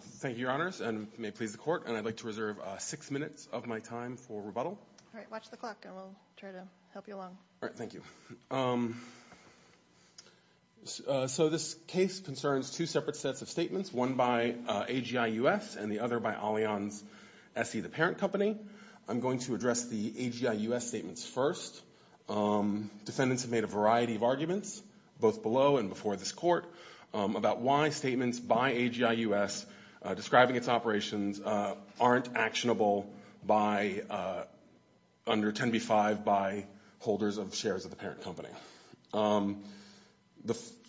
Thank you, Your Honors, and may it please the Court, and I'd like to reserve six minutes of my time for rebuttal. All right, watch the clock, and we'll try to help you along. All right, thank you. So this case concerns two separate sets of statements, one by AGI-U.S. and the other by Allianz SE, the parent company. I'm going to address the AGI-U.S. statements first. Defendants have made a variety of arguments, both below and before this Court, about why statements by AGI-U.S. describing its operations aren't actionable under 10b-5 by holders of shares of the parent company.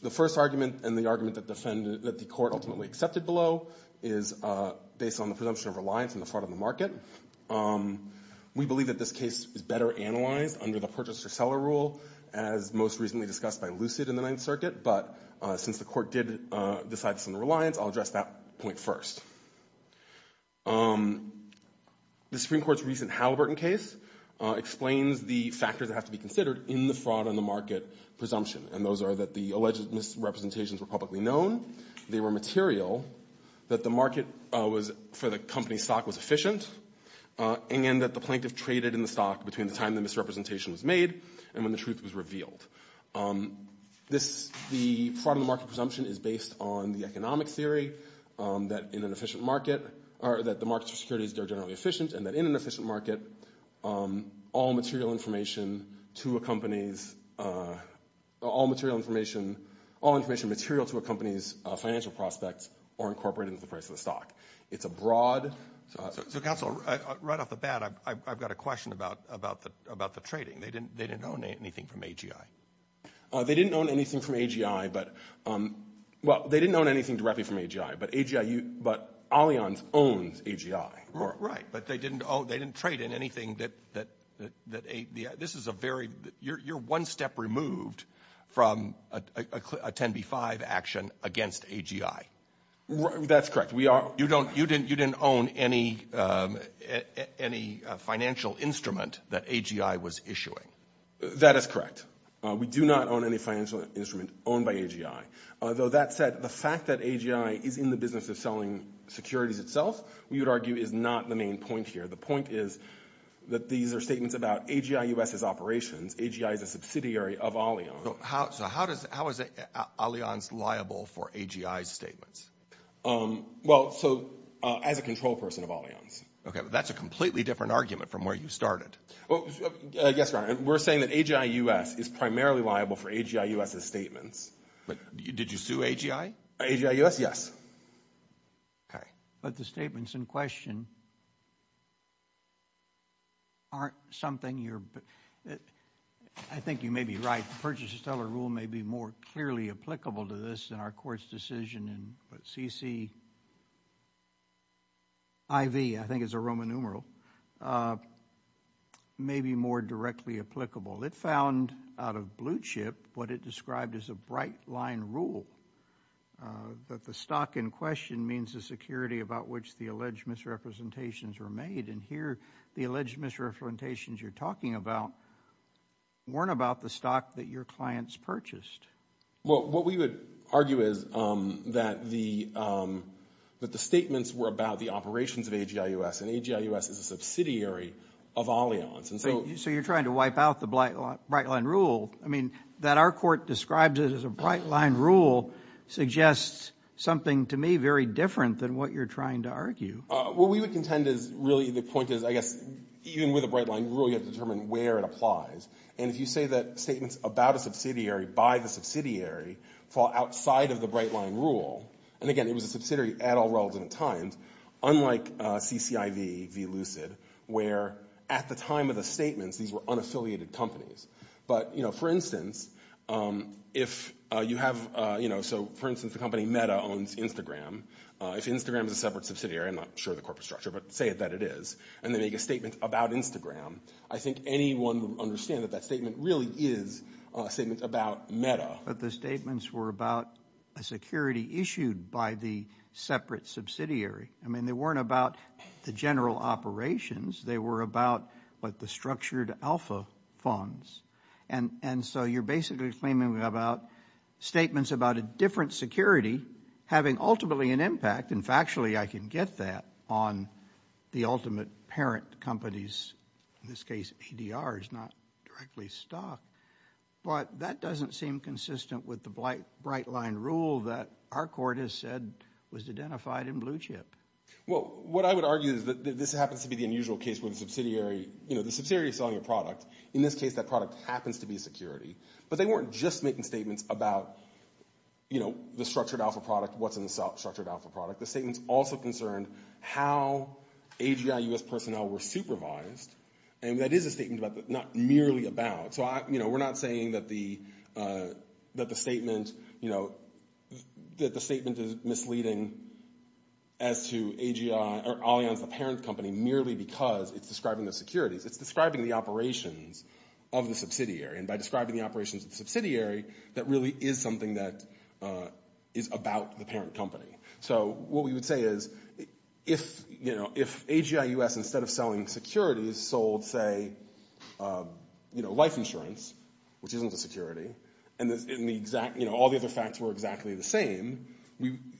The first argument, and the argument that the Court ultimately accepted below, is based on the presumption of reliance on the fraud of the market. We believe that this case is better analyzed under the purchaser-seller rule, as most recently discussed by Lucid in the Ninth Circuit, but since the Court did decide it's under reliance, I'll address that point first. The Supreme Court's recent Halliburton case explains the factors that have to be considered in the fraud on the market presumption, and those are that the alleged misrepresentations were publicly known, they were material, that the market for the company's stock was efficient, and that the plaintiff traded in the stock between the time the misrepresentation was made and when the truth was revealed. The fraud on the market presumption is based on the economic theory that in an efficient market, or that the markets for securities are generally efficient, and that in an efficient market, all material information to a company's financial prospects are incorporated into the price of the stock. It's a broad... So, Counselor, right off the bat, I've got a question about the trading. They didn't own anything from AGI. They didn't own anything directly from AGI, but Allianz owns AGI. Right, but they didn't trade in anything that... You're one step removed from a 10b-5 action against AGI. That's correct. We are... You didn't own any financial instrument that AGI was issuing. That is correct. We do not own any financial instrument owned by AGI. Although, that said, the fact that AGI is in the business of selling securities itself, we would argue, is not the main point here. The point is that these are statements about AGI U.S.'s operations. AGI is a subsidiary of Allianz. So, how is Allianz liable for AGI's statements? Well, so, as a control person of Allianz. Okay, but that's a completely different argument from where you started. Well, yes, we're saying that AGI U.S. is primarily liable for AGI U.S.'s statements. Did you sue AGI? AGI U.S., yes. Okay. But the statements in question aren't something you're... I think you may be right. Purchases tell a rule may be more clearly applicable to this than our court's decision in CCIV. I think it's a Roman numeral. Maybe more directly applicable. It found, out of blue chip, what it described as a bright line rule, that the stock in question means the security about which the alleged misrepresentations were made. And here, the alleged misrepresentations you're talking about weren't about the stock that your clients purchased. Well, what we would argue is that the statements were about the operations of AGI U.S., and AGI U.S. is a subsidiary of Allianz, and so... So you're trying to wipe out the bright line rule? I mean, that our court describes it as a bright line rule suggests something, to me, very different than what you're trying to argue. What we would contend is, really, the point is, I guess, even with a bright line rule, you have to determine where it applies. And if you say that statements about a subsidiary by the subsidiary fall outside of the bright line rule, and again, it was a subsidiary at all relevant times, unlike CCIV v. Lucid, where at the time of the statements, these were unaffiliated companies. But for instance, if you have... So for instance, the company Meta owns Instagram. If Instagram is a separate subsidiary, I'm not sure of the corporate structure, but say that it is, and they make a statement about Instagram, I think anyone would understand that that statement really is a statement about Meta. But the statements were about a security issued by the separate subsidiary. I mean, they weren't about the general operations. They were about, what, the structured alpha funds. And so you're basically claiming about statements about a different security having ultimately an impact. In factually, I can get that on the ultimate parent companies. In this case, ADR is not directly stock. But that doesn't seem consistent with the bright line rule that our court has said was identified in Blue Chip. Well, what I would argue is that this happens to be the unusual case where the subsidiary is selling a product. In this case, that product happens to be security. But they weren't just making statements about the structured alpha product, what's in the structured alpha product. The statements also concerned how AGI US personnel were supervised. And that is a statement about the... Not merely about. So we're not saying that the statement is misleading as to AGI or Allianz, the parent company, merely because it's describing the securities. It's describing the operations of the subsidiary. And by describing the operations of the subsidiary, that really is something that is about the parent company. So what we would say is, if AGI US, instead of selling securities, sold, say, life insurance, which isn't a security, and all the other facts were exactly the same,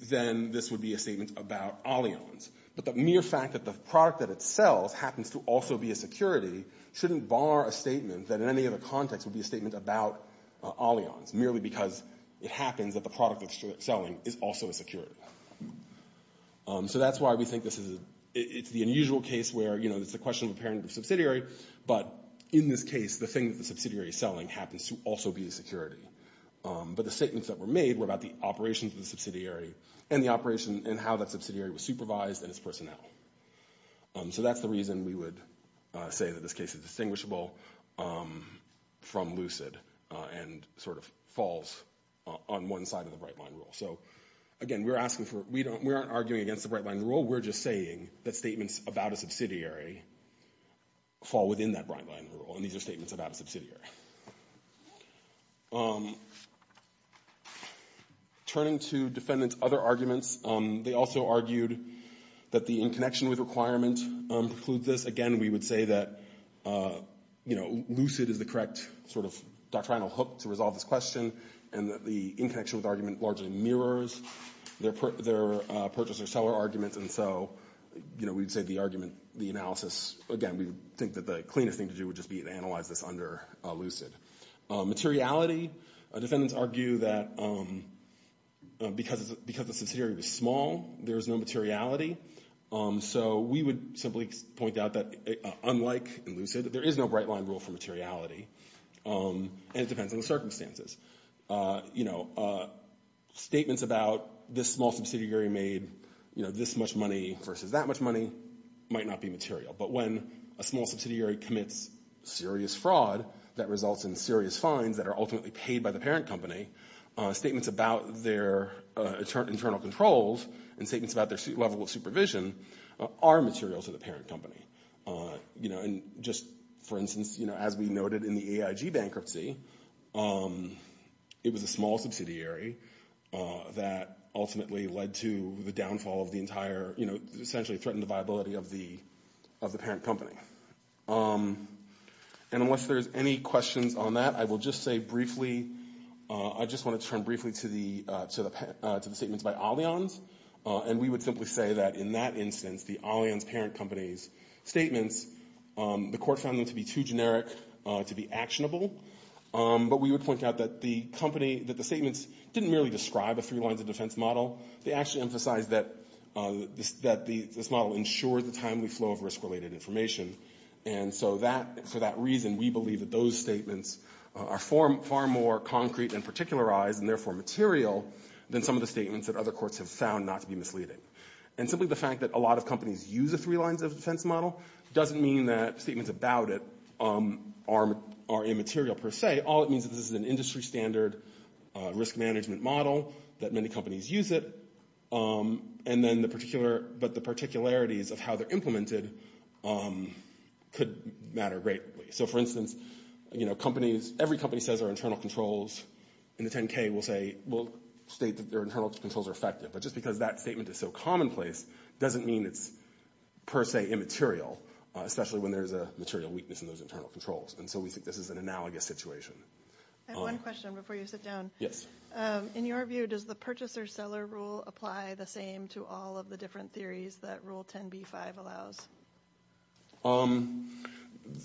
then this would be a statement about Allianz. But the mere fact that the product that it sells happens to also be a security shouldn't bar a statement that in any other context would be a statement about Allianz, merely because it happens that the product that it's selling is also a security. So that's why we think this is... It's the unusual case where, you know, it's a question of a parent and a subsidiary, but in this case, the thing that the subsidiary is selling happens to also be a security. But the statements that were made were about the operations of the subsidiary and the operation and how that subsidiary was supervised and its personnel. So that's the reason we would say that this case is distinguishable from Lucid and sort of falls on one side of the Bright Line Rule. So again, we're asking for... We aren't arguing against the Bright Line Rule. We're just saying that statements about a subsidiary fall within that Bright Line Rule, and these are statements about a subsidiary. Turning to defendants' other arguments, they also argued that the in-connection-with requirement precludes this. Again, we would say that, you know, Lucid is the correct sort of doctrinal hook to resolve this question, and that the in-connection-with argument largely mirrors their purchase-or-seller argument. And so, you know, we'd say the argument, the analysis... Again, we think that the cleanest thing to do would just be to analyze this under Lucid. Materiality, defendants argue that because the subsidiary was small, there was no materiality. So we would simply point out that, unlike in Lucid, there is no Bright Line Rule for materiality, and it depends on the circumstances. You know, statements about this small subsidiary made, you know, this much money versus that much money might not be material. But when a small subsidiary commits serious fraud that results in serious fines that are ultimately paid by the parent company, statements about their internal controls and statements about their level of supervision are material to the parent company. You know, and just for instance, you know, as we noted in the AIG bankruptcy, it was a small subsidiary that ultimately led to the downfall of the entire, you know, essentially threatened the viability of the parent company. And unless there's any questions on that, I will just say briefly, I just want to turn briefly to the statements by Allianz. And we would simply say that in that instance, the Allianz parent company's statements, the court found them to be too generic to be actionable. But we would point out that the company, that the statements didn't merely describe a three lines of defense model. They actually emphasized that this model ensured the timely flow of risk-related information. And so that, for that reason, we believe that those statements are far more concrete and particularized and therefore material than some of the statements that other courts have found not to be misleading. And simply the fact that a lot of companies use the three lines of defense model doesn't mean that statements about it are immaterial per se. All it means is this is an industry standard risk management model that many companies use it. And then the particular, but the particularities of how they're implemented could matter greatly. So for instance, companies, every company says their internal controls in the 10-K will say, will state that their internal controls are effective. But just because that statement is so commonplace doesn't mean it's per se immaterial, especially when there's a material weakness in those internal controls. And so we think this is an analogous situation. I have one question before you sit down. Yes. In your view, does the purchaser-seller rule apply the same to all of the different theories that Rule 10b-5 allows?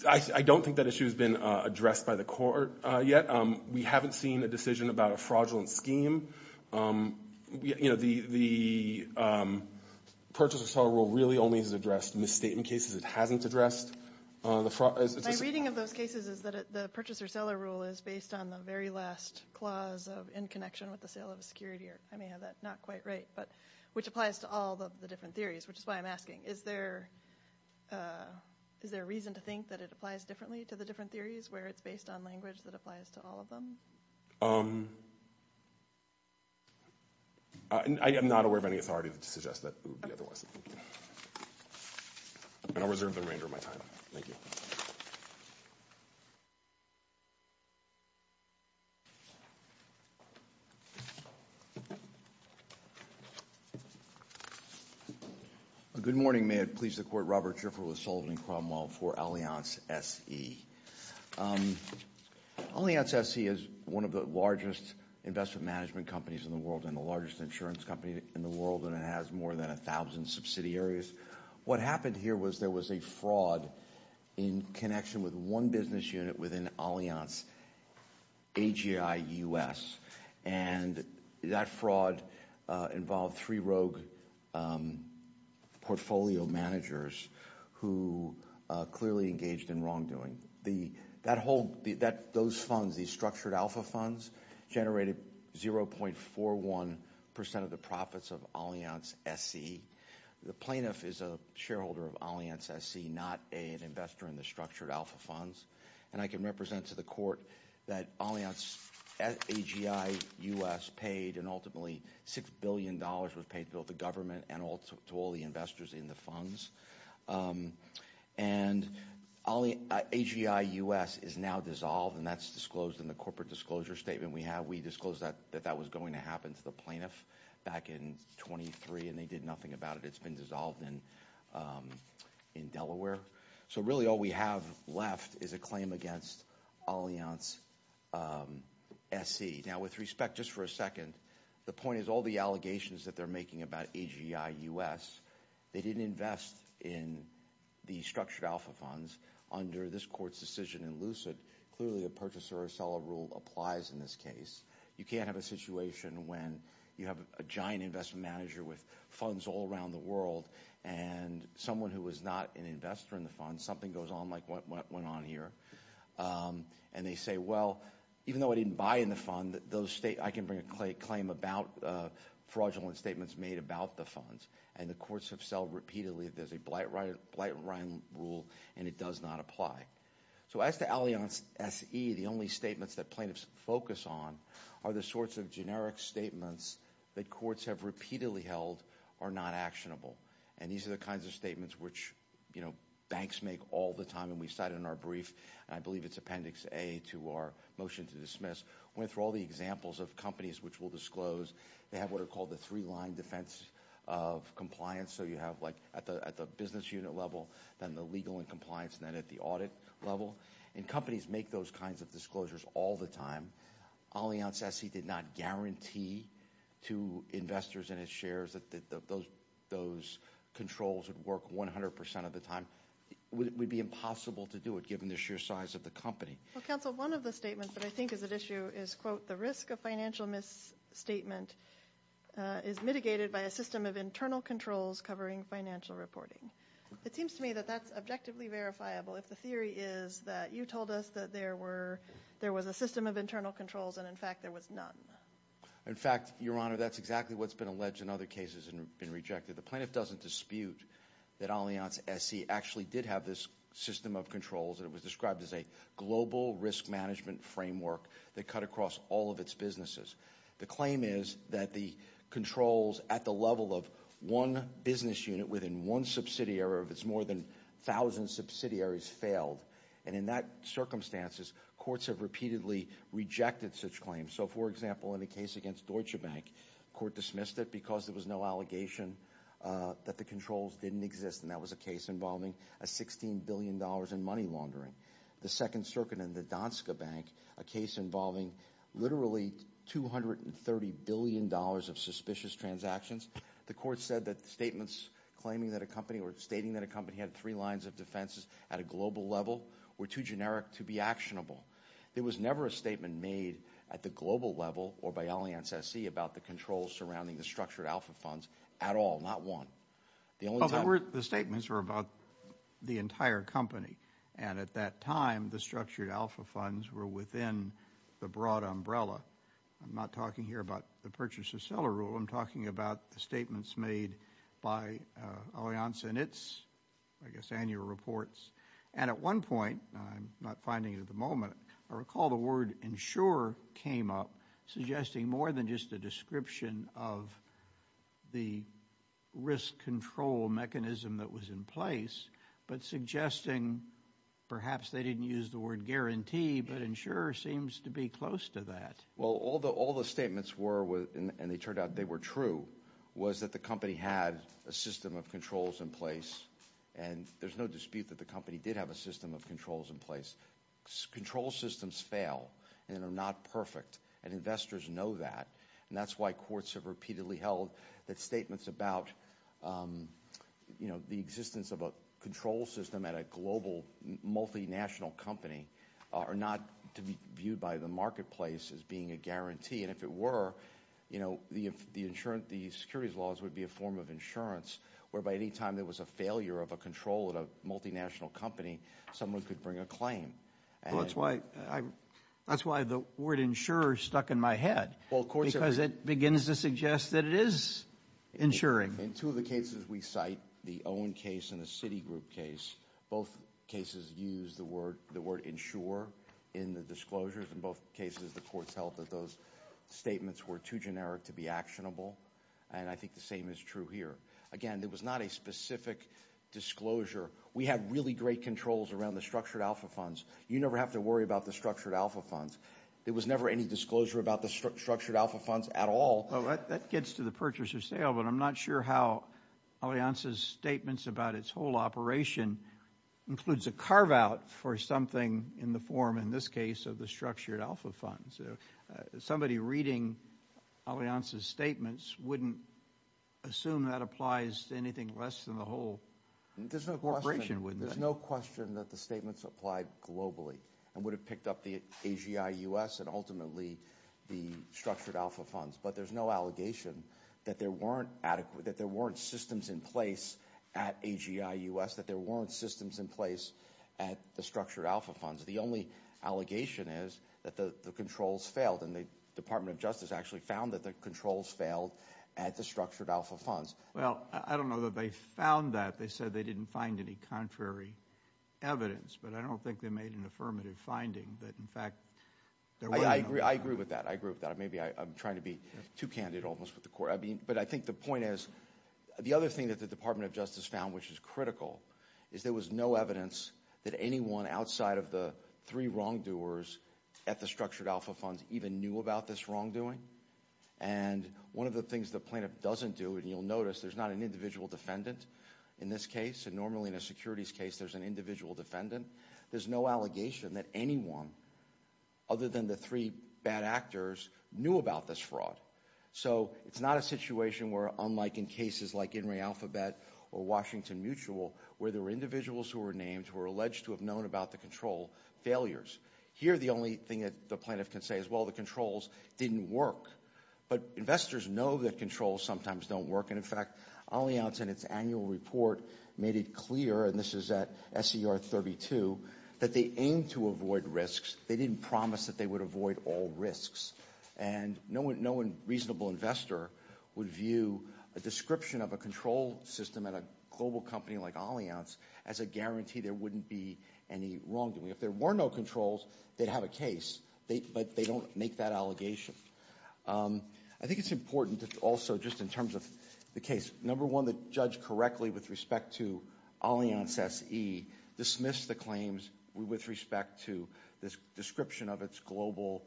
I don't think that issue has been addressed by the court yet. We haven't seen a decision about a fraudulent scheme. You know, the purchaser-seller rule really only is addressed in misstatement cases. It hasn't addressed the fraud. My reading of those cases is that the purchaser-seller rule is based on the very last clause of in connection with the sale of a security, or I may have that not quite right, but which applies to all of the different theories, which is why I'm asking. Is there a reason to think that it applies differently to the different theories where it's based on language that applies to all of them? I am not aware of any authority to suggest that it would be otherwise. And I'll reserve the remainder of my time. Thank you. Good morning. May it please the Court, Robert Schiffer with Sullivan & Cromwell for Allianz SE. Allianz SE is one of the largest investment management companies in the world and the largest insurance company in the world, and it has more than 1,000 subsidiaries. What happened here was there was a fraud in connection with one business unit within Allianz, AGI US, and that fraud involved three rogue portfolio managers who clearly engaged in wrongdoing. Those funds, these structured alpha funds, generated 0.41% of the profits of Allianz SE. The plaintiff is a shareholder of Allianz SE, not an investor in the structured alpha funds. And I can represent to the Court that Allianz AGI US paid, and ultimately $6 billion was paid to both the government and to all the investors in the funds. And AGI US is now dissolved, and that's disclosed in the corporate disclosure statement we have. We disclosed that that was going to happen to the plaintiff back in 23, and they did nothing about it. It's been dissolved in Delaware. So really all we have left is a claim against Allianz SE. Now with respect, just for a second, the point is all the allegations that they're making about AGI US, they didn't invest in the structured alpha funds under this Court's decision in Lucid. Clearly a purchaser or seller rule applies in this case. You can't have a situation when you have a giant investment manager with funds all around the world, and someone who is not an investor in the funds, something goes on like what went on here, and they say, well, even though I didn't buy in the fund, I can bring a claim about fraudulent statements made about the funds. And the courts have said repeatedly there's a blight rule, and it does not apply. So as to Allianz SE, the only statements that plaintiffs focus on are the sorts of generic statements that courts have repeatedly held are not actionable. And these are the kinds of statements which, you know, banks make all the time. And we cited in our brief, and I believe it's Appendix A to our motion to dismiss, went through all the examples of companies which will disclose. They have what are called the three-line defense of compliance. So you have like at the business unit level, then the legal and compliance, then at the audit level. And companies make those kinds of disclosures all the time. Allianz SE did not guarantee to investors in its shares that those controls would work 100 percent of the time. It would be impossible to do it given the sheer size of the company. Well, counsel, one of the statements that I think is at issue is, quote, the risk of financial misstatement is mitigated by a system of internal controls covering financial reporting. It seems to me that that's objectively verifiable if the theory is that you told us that there was a system of internal controls and in fact there was none. In fact, Your Honor, that's exactly what's been alleged in other cases and been rejected. The plaintiff doesn't dispute that Allianz SE actually did have this system of controls and it was described as a global risk management framework that cut across all of its businesses. The claim is that the controls at the level of one business unit within one subsidiary of its more than thousand subsidiaries failed. And in that circumstances, courts have repeatedly rejected such claims. So, for example, in the case against Deutsche Bank, court dismissed it because there was no allegation that the controls didn't exist. And that was a case involving a $16 billion in money laundering. The Second Circuit in the Donska Bank, a case involving literally $230 billion of suspicious transactions, the court said that statements claiming that a company or stating that a company had three lines of defenses at a global level were too generic to be actionable. There was never a statement made at the global level or by Allianz SE about the controls surrounding the structured alpha funds at all, not one. The statements were about the entire company. And at that time, the structured alpha funds were within the broad umbrella. I'm not talking here about the purchase of seller rule. I'm talking about the statements made by Allianz and its, I guess, annual reports. And at one point, I'm not finding it at the moment, I recall the word insurer came up suggesting more than just a description of the risk control mechanism that was in place, but suggesting perhaps they didn't use the word guarantee, but insurer seems to be close to that. Well, all the statements were, and they turned out they were true, was that the company had a system of controls in place. And there's no dispute that the company did have a system of controls in place. Control systems fail and are not perfect, and investors know that. And that's why courts have repeatedly held that statements about, you know, the existence of a control system at a global multinational company are not to be viewed by the marketplace as being a guarantee. And if it were, you know, the securities laws would be a form of insurance whereby any time there was a failure of a control at a multinational company, someone could bring a claim. That's why the word insurer stuck in my head, because it begins to suggest that it is insuring. In two of the cases we cite, the Owen case and the Citigroup case, both cases use the word insurer in the disclosures. In both cases, the courts held that those statements were too generic to be actionable. And I think the same is true here. Again, it was not a disclosure. There were no rules around the structured alpha funds. You never have to worry about the structured alpha funds. There was never any disclosure about the structured alpha funds at all. That gets to the purchaser sale, but I'm not sure how Alianza's statements about its whole operation includes a carve-out for something in the form, in this case, of the structured alpha funds. Somebody reading Alianza's statements wouldn't assume that applies to anything less than the whole corporation, would they? There's no question that the statements applied globally, and would have picked up the AGI-US and ultimately the structured alpha funds. But there's no allegation that there weren't systems in place at AGI-US, that there weren't systems in place at the structured alpha funds. The only allegation is that the controls failed, and the Department of Justice actually found that the controls failed at the structured alpha funds. Well, I don't know that they found that. They said they didn't find any contrary evidence, but I don't think they made an affirmative finding that, in fact, there were no- I agree with that. I agree with that. Maybe I'm trying to be too candid almost with the court. But I think the point is, the other thing that the Department of Justice found, which is critical, is there was no evidence that anyone outside of the three wrongdoers at the structured alpha funds even knew about this wrongdoing. And one of the things the plaintiff doesn't do, and you'll notice, there's not an individual defendant in this case. And normally in a securities case, there's an individual defendant. There's no allegation that anyone other than the three bad actors knew about this fraud. So it's not a situation where, unlike in cases like In re Alphabet or Washington Mutual, where there were individuals who were named who were alleged to have known about the control failures. Here, the only thing that the plaintiff can say is, well, the controls didn't work. But investors know that controls sometimes don't work. And in fact, Allianz, in its annual report, made it clear, and this is at SER 32, that they aimed to avoid risks. They didn't promise that they would avoid all risks. And no reasonable investor would view a description of a control system at a global company like Allianz as a guarantee there wouldn't be any wrongdoing. If there were no controls, they'd have a case. But they don't make that allegation. I think it's important to also, just in terms of the case, number one, the judge correctly with respect to Allianz SE dismissed the claims with respect to this description of its global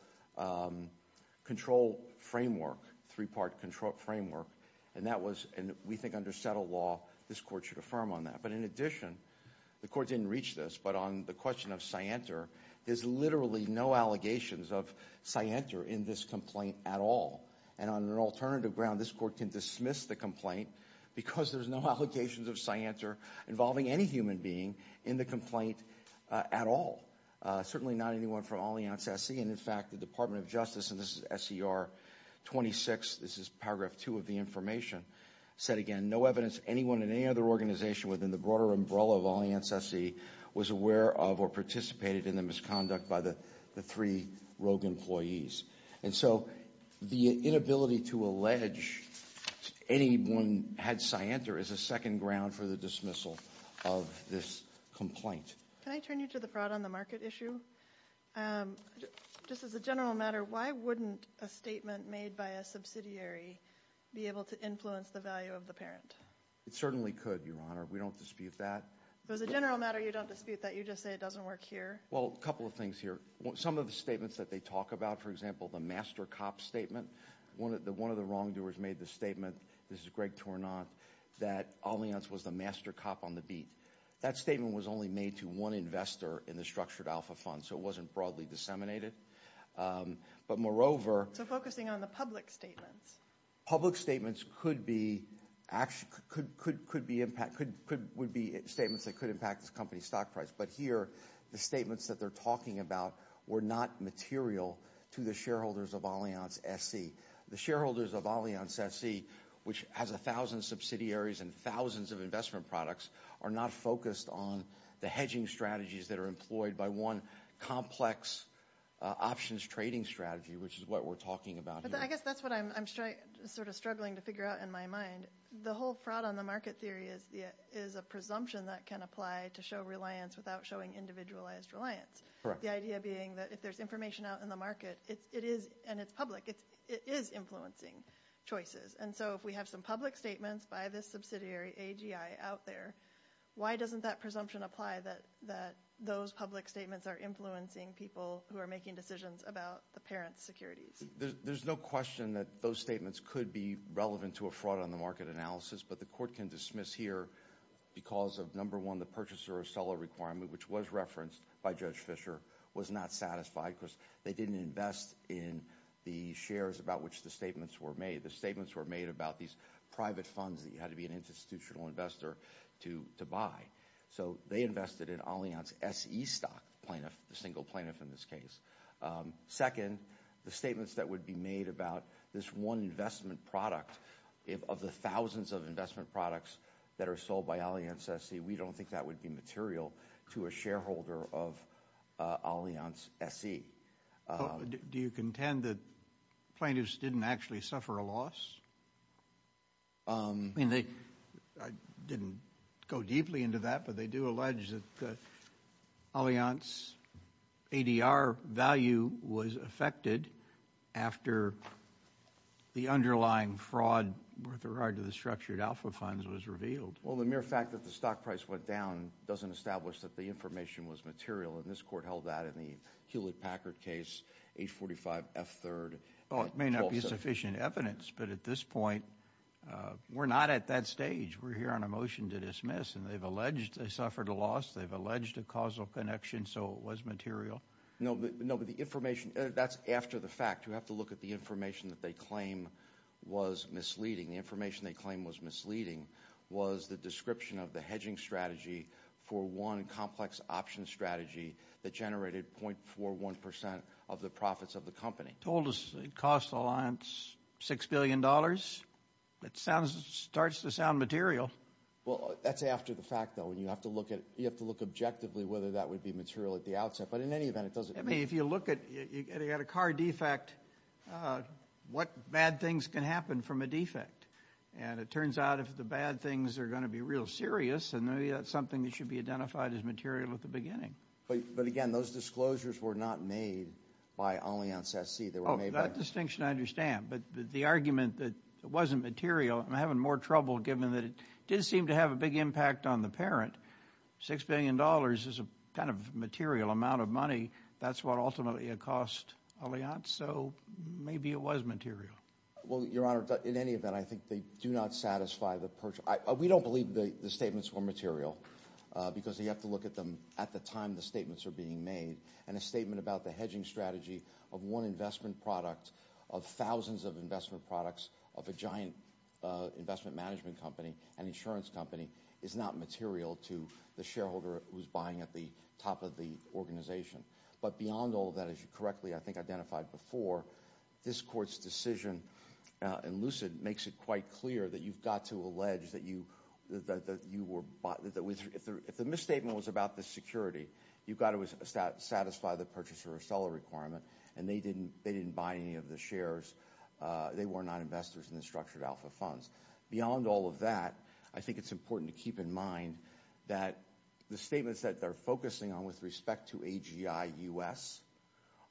control framework, three-part control framework. And that was, and we think under settled law, this court should affirm on that. But in addition, the court didn't reach this, but on the question of scienter, there's literally no allegations of scienter in this complaint at all. And on an alternative ground, this court can dismiss the complaint because there's no allegations of scienter involving any human being in the complaint at all. Certainly not anyone from Allianz SE. And in fact, the Department of Justice, and this is SER 26, this is paragraph two of the information, said again, no evidence anyone in any other organization within the umbrella of Allianz SE was aware of or participated in the misconduct by the three rogue employees. And so the inability to allege anyone had scienter is a second ground for the dismissal of this complaint. Can I turn you to the fraud on the market issue? Just as a general matter, why wouldn't a statement made by a subsidiary be able to influence the value of the parent? It certainly could, Your Honor. We don't dispute that. So as a general matter, you don't dispute that. You just say it doesn't work here. Well, a couple of things here. Some of the statements that they talk about, for example, the master cop statement, one of the wrongdoers made the statement, this is Greg Tornant, that Allianz was the master cop on the beat. That statement was only made to one investor in the structured alpha fund, so it wasn't broadly disseminated. But moreover- So focusing on the public statements. Public statements could be statements that could impact this company's stock price. But here, the statements that they're talking about were not material to the shareholders of Allianz SE. The shareholders of Allianz SE, which has 1,000 subsidiaries and thousands of investment products, are not focused on the hedging strategies that are employed by one complex options trading strategy, which is what we're talking about here. I guess that's what I'm sort of struggling to figure out in my mind. The whole fraud on the market theory is a presumption that can apply to show reliance without showing individualized reliance. The idea being that if there's information out in the market, it is, and it's public, it is influencing choices. And so if we have some public statements by this subsidiary, AGI, out there, why doesn't that presumption apply that those public statements are influencing people who are making decisions about the parents' securities? There's no question that those statements could be relevant to a fraud on the market analysis, but the court can dismiss here because of, number one, the purchaser or seller requirement, which was referenced by Judge Fischer, was not satisfied because they didn't invest in the shares about which the statements were made. The statements were made about these private funds that you had to be an institutional investor to buy. So they invested in Allianz S.E. stock plaintiff, the single plaintiff in this case. Second, the statements that would be made about this one investment product, of the thousands of investment products that are sold by Allianz S.E., we don't think that would be material to a shareholder of Allianz S.E. Do you contend that plaintiffs didn't actually suffer a loss? I mean, I didn't go deeply into that, but they do allege that Allianz's ADR value was affected after the underlying fraud with regard to the structured alpha funds was revealed. Well, the mere fact that the stock price went down doesn't establish that the information was material, and this court held that in the Hewlett-Packard case, H-45, F-3, and 12-7. That's sufficient evidence, but at this point, we're not at that stage. We're here on a motion to dismiss, and they've alleged they suffered a loss. They've alleged a causal connection, so it was material. No, but the information, that's after the fact. You have to look at the information that they claim was misleading. The information they claim was misleading was the description of the hedging strategy for one complex option strategy that generated 0.41% of the profits of the company. They told us it cost Allianz $6 billion. It starts to sound material. Well, that's after the fact, though, and you have to look at it. You have to look objectively whether that would be material at the outset, but in any event, it doesn't mean— I mean, if you look at a car defect, what bad things can happen from a defect? And it turns out if the bad things are going to be real serious, then maybe that's something that should be identified as material at the beginning. But again, those disclosures were not made by Allianz SC. They were made by— Oh, that distinction I understand, but the argument that it wasn't material—I'm having more trouble given that it did seem to have a big impact on the parent. $6 billion is a kind of material amount of money. That's what ultimately it cost Allianz, so maybe it was material. Well, Your Honor, in any event, I think they do not satisfy the purge. We don't believe the statements were material because you have to look at them at the time the statements are being made, and a statement about the hedging strategy of one investment product, of thousands of investment products, of a giant investment management company, an insurance company, is not material to the shareholder who's buying at the top of the organization. But beyond all that, as you correctly, I think, identified before, this Court's decision in Lucid makes it quite clear that you've got to allege that you were—if the misstatement was about the security, you've got to satisfy the purchaser or seller requirement, and they didn't buy any of the shares. They were not investors in the structured alpha funds. Beyond all of that, I think it's important to keep in mind that the statements that they're focusing on with respect to AGI-US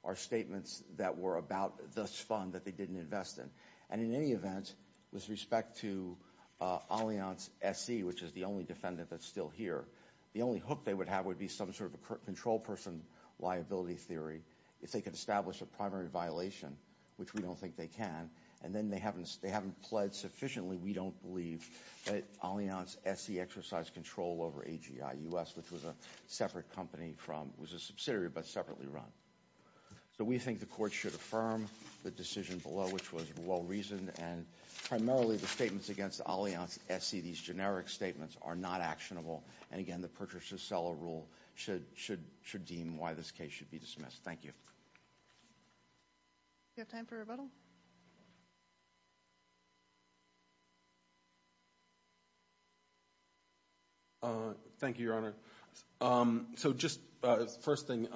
are statements that were about this fund that they didn't invest in, and in any event, with respect to Allianz SE, which is the only defendant that's still here, the only hook they would have would be some sort of a control person liability theory, if they could establish a primary violation, which we don't think they can, and then they haven't pledged sufficiently, we don't believe, that Allianz SE exercised control over AGI-US, which was a separate company from—was a subsidiary, but separately run. So we think the court should affirm the decision below, which was well-reasoned, and primarily the statements against Allianz SE, these generic statements, are not actionable, and again, the purchaser-seller rule should deem why this case should be dismissed. Thank you. Do you have time for a rebuttal? Thank you, Your Honor. So just, first thing,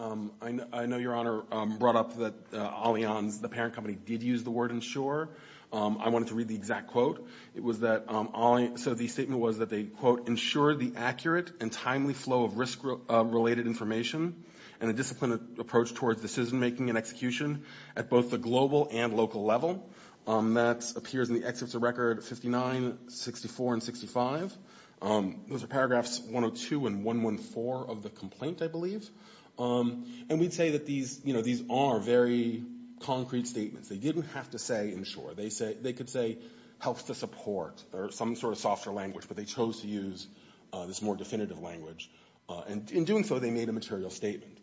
I know Your Honor brought up that Allianz, the parent company, did use the word insure. I wanted to read the exact quote. It was that Allianz—so the statement was that they, quote, insure the accurate and timely flow of risk-related information and a disciplined approach towards decision-making and execution at both the global and local level. That appears in the excerpts of record 59, 64, and 65. Those are paragraphs 102 and 114 of the complaint, I believe. And we'd say that these, you know, these are very concrete statements. They didn't have to say insure. They could say helps to support, or some sort of softer language, but they chose to use this more definitive language. And in doing so, they made a material statement.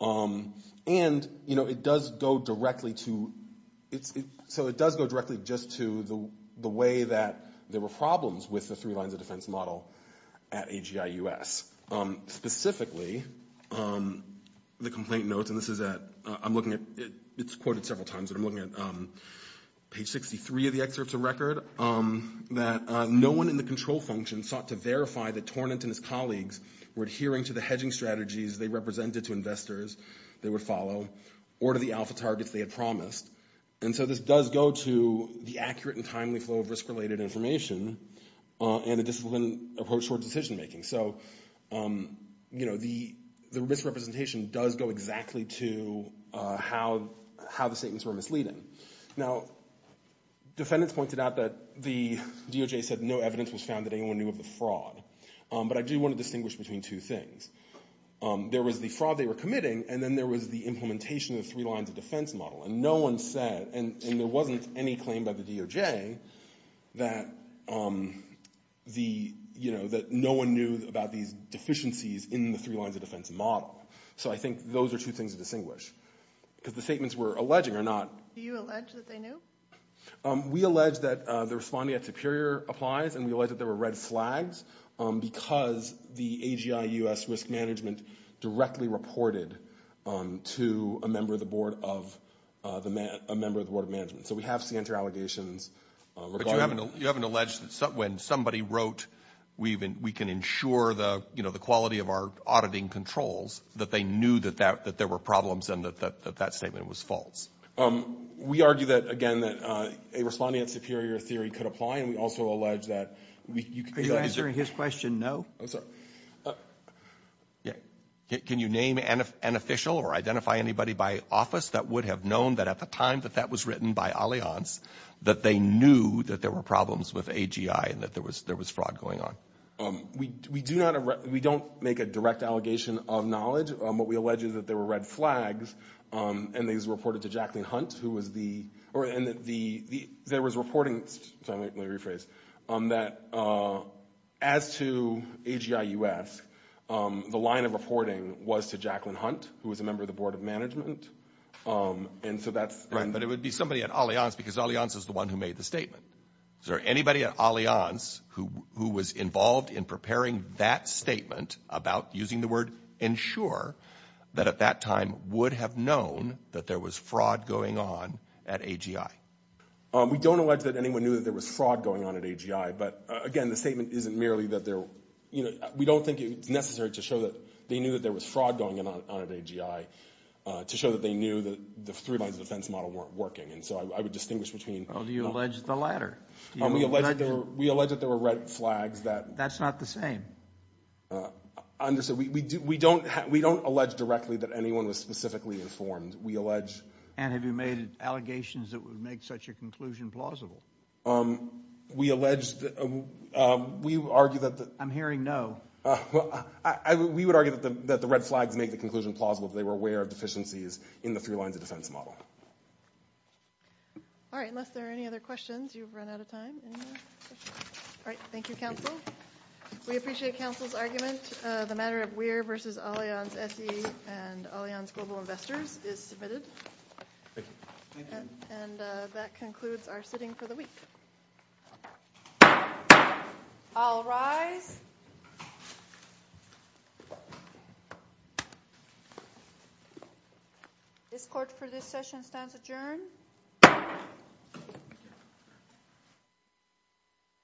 And, you know, it does go directly to—so it does go directly just to the way that there were problems with the three lines of defense model at AGIUS. Specifically, the complaint notes, and this is at—I'm looking at—it's quoted several times, but I'm looking at page 63 of the excerpts of record, that no one in the control function sought to verify that Tornant and his colleagues were adhering to the hedging strategies they represented to investors they would follow or to the alpha targets they had promised. And so this does go to the accurate and timely flow of risk-related information and a disciplined approach towards decision-making. So, you know, the misrepresentation does go exactly to how the statements were misleading. Now, defendants pointed out that the DOJ said no evidence was found that anyone knew of the fraud. But I do want to distinguish between two things. There was the fraud they were committing, and then there was the implementation of the three lines of defense model. And no one said—and there wasn't any claim by the DOJ that, you know, that no one knew about these deficiencies in the three lines of defense model. So I think those are two things to distinguish, because the statements we're alleging are not— Do you allege that they knew? We allege that the responding at Superior applies, and we allege that there were red flags because the AGI U.S. Risk Management directly reported to a member of the Board of—a member of the Board of Management. So we have center allegations regarding— But you haven't alleged that when somebody wrote, we can ensure the, you know, the quality of our auditing controls, that they knew that there were problems and that that statement was false? We argue that, again, that a responding at Superior theory could apply, and we also allege that we— Are you answering his question no? I'm sorry. Can you name an official or identify anybody by office that would have known that at the time that that was written by Allianz, that they knew that there were problems with AGI and that there was fraud going on? We do not—we don't make a direct allegation of knowledge. What we allege is that there were red flags, and these were reported to Jacqueline Hunt, who was the—or in the—there was reporting—let me rephrase—that as to AGI U.S., the line of reporting was to Jacqueline Hunt, who was a member of the Board of Management, and so that's— Right, but it would be somebody at Allianz because Allianz is the one who made the statement. Is there anybody at Allianz who was involved in preparing that statement about using the ensure that at that time would have known that there was fraud going on at AGI? We don't allege that anyone knew that there was fraud going on at AGI, but again, the statement isn't merely that there—you know, we don't think it's necessary to show that they knew that there was fraud going on at AGI to show that they knew that the three lines of defense model weren't working, and so I would distinguish between— Well, do you allege the latter? We allege that there were red flags that— That's not the same. Understood. We don't—we don't allege directly that anyone was specifically informed. We allege— And have you made allegations that would make such a conclusion plausible? We allege—we argue that the— I'm hearing no. We would argue that the red flags make the conclusion plausible if they were aware of deficiencies in the three lines of defense model. All right, unless there are any other questions, you've run out of time. All right, thank you, counsel. We appreciate counsel's argument. The matter of Weir v. Allianz SE and Allianz Global Investors is submitted. Thank you. Thank you. And that concludes our sitting for the week. I'll rise. This court, for this session, stands adjourned.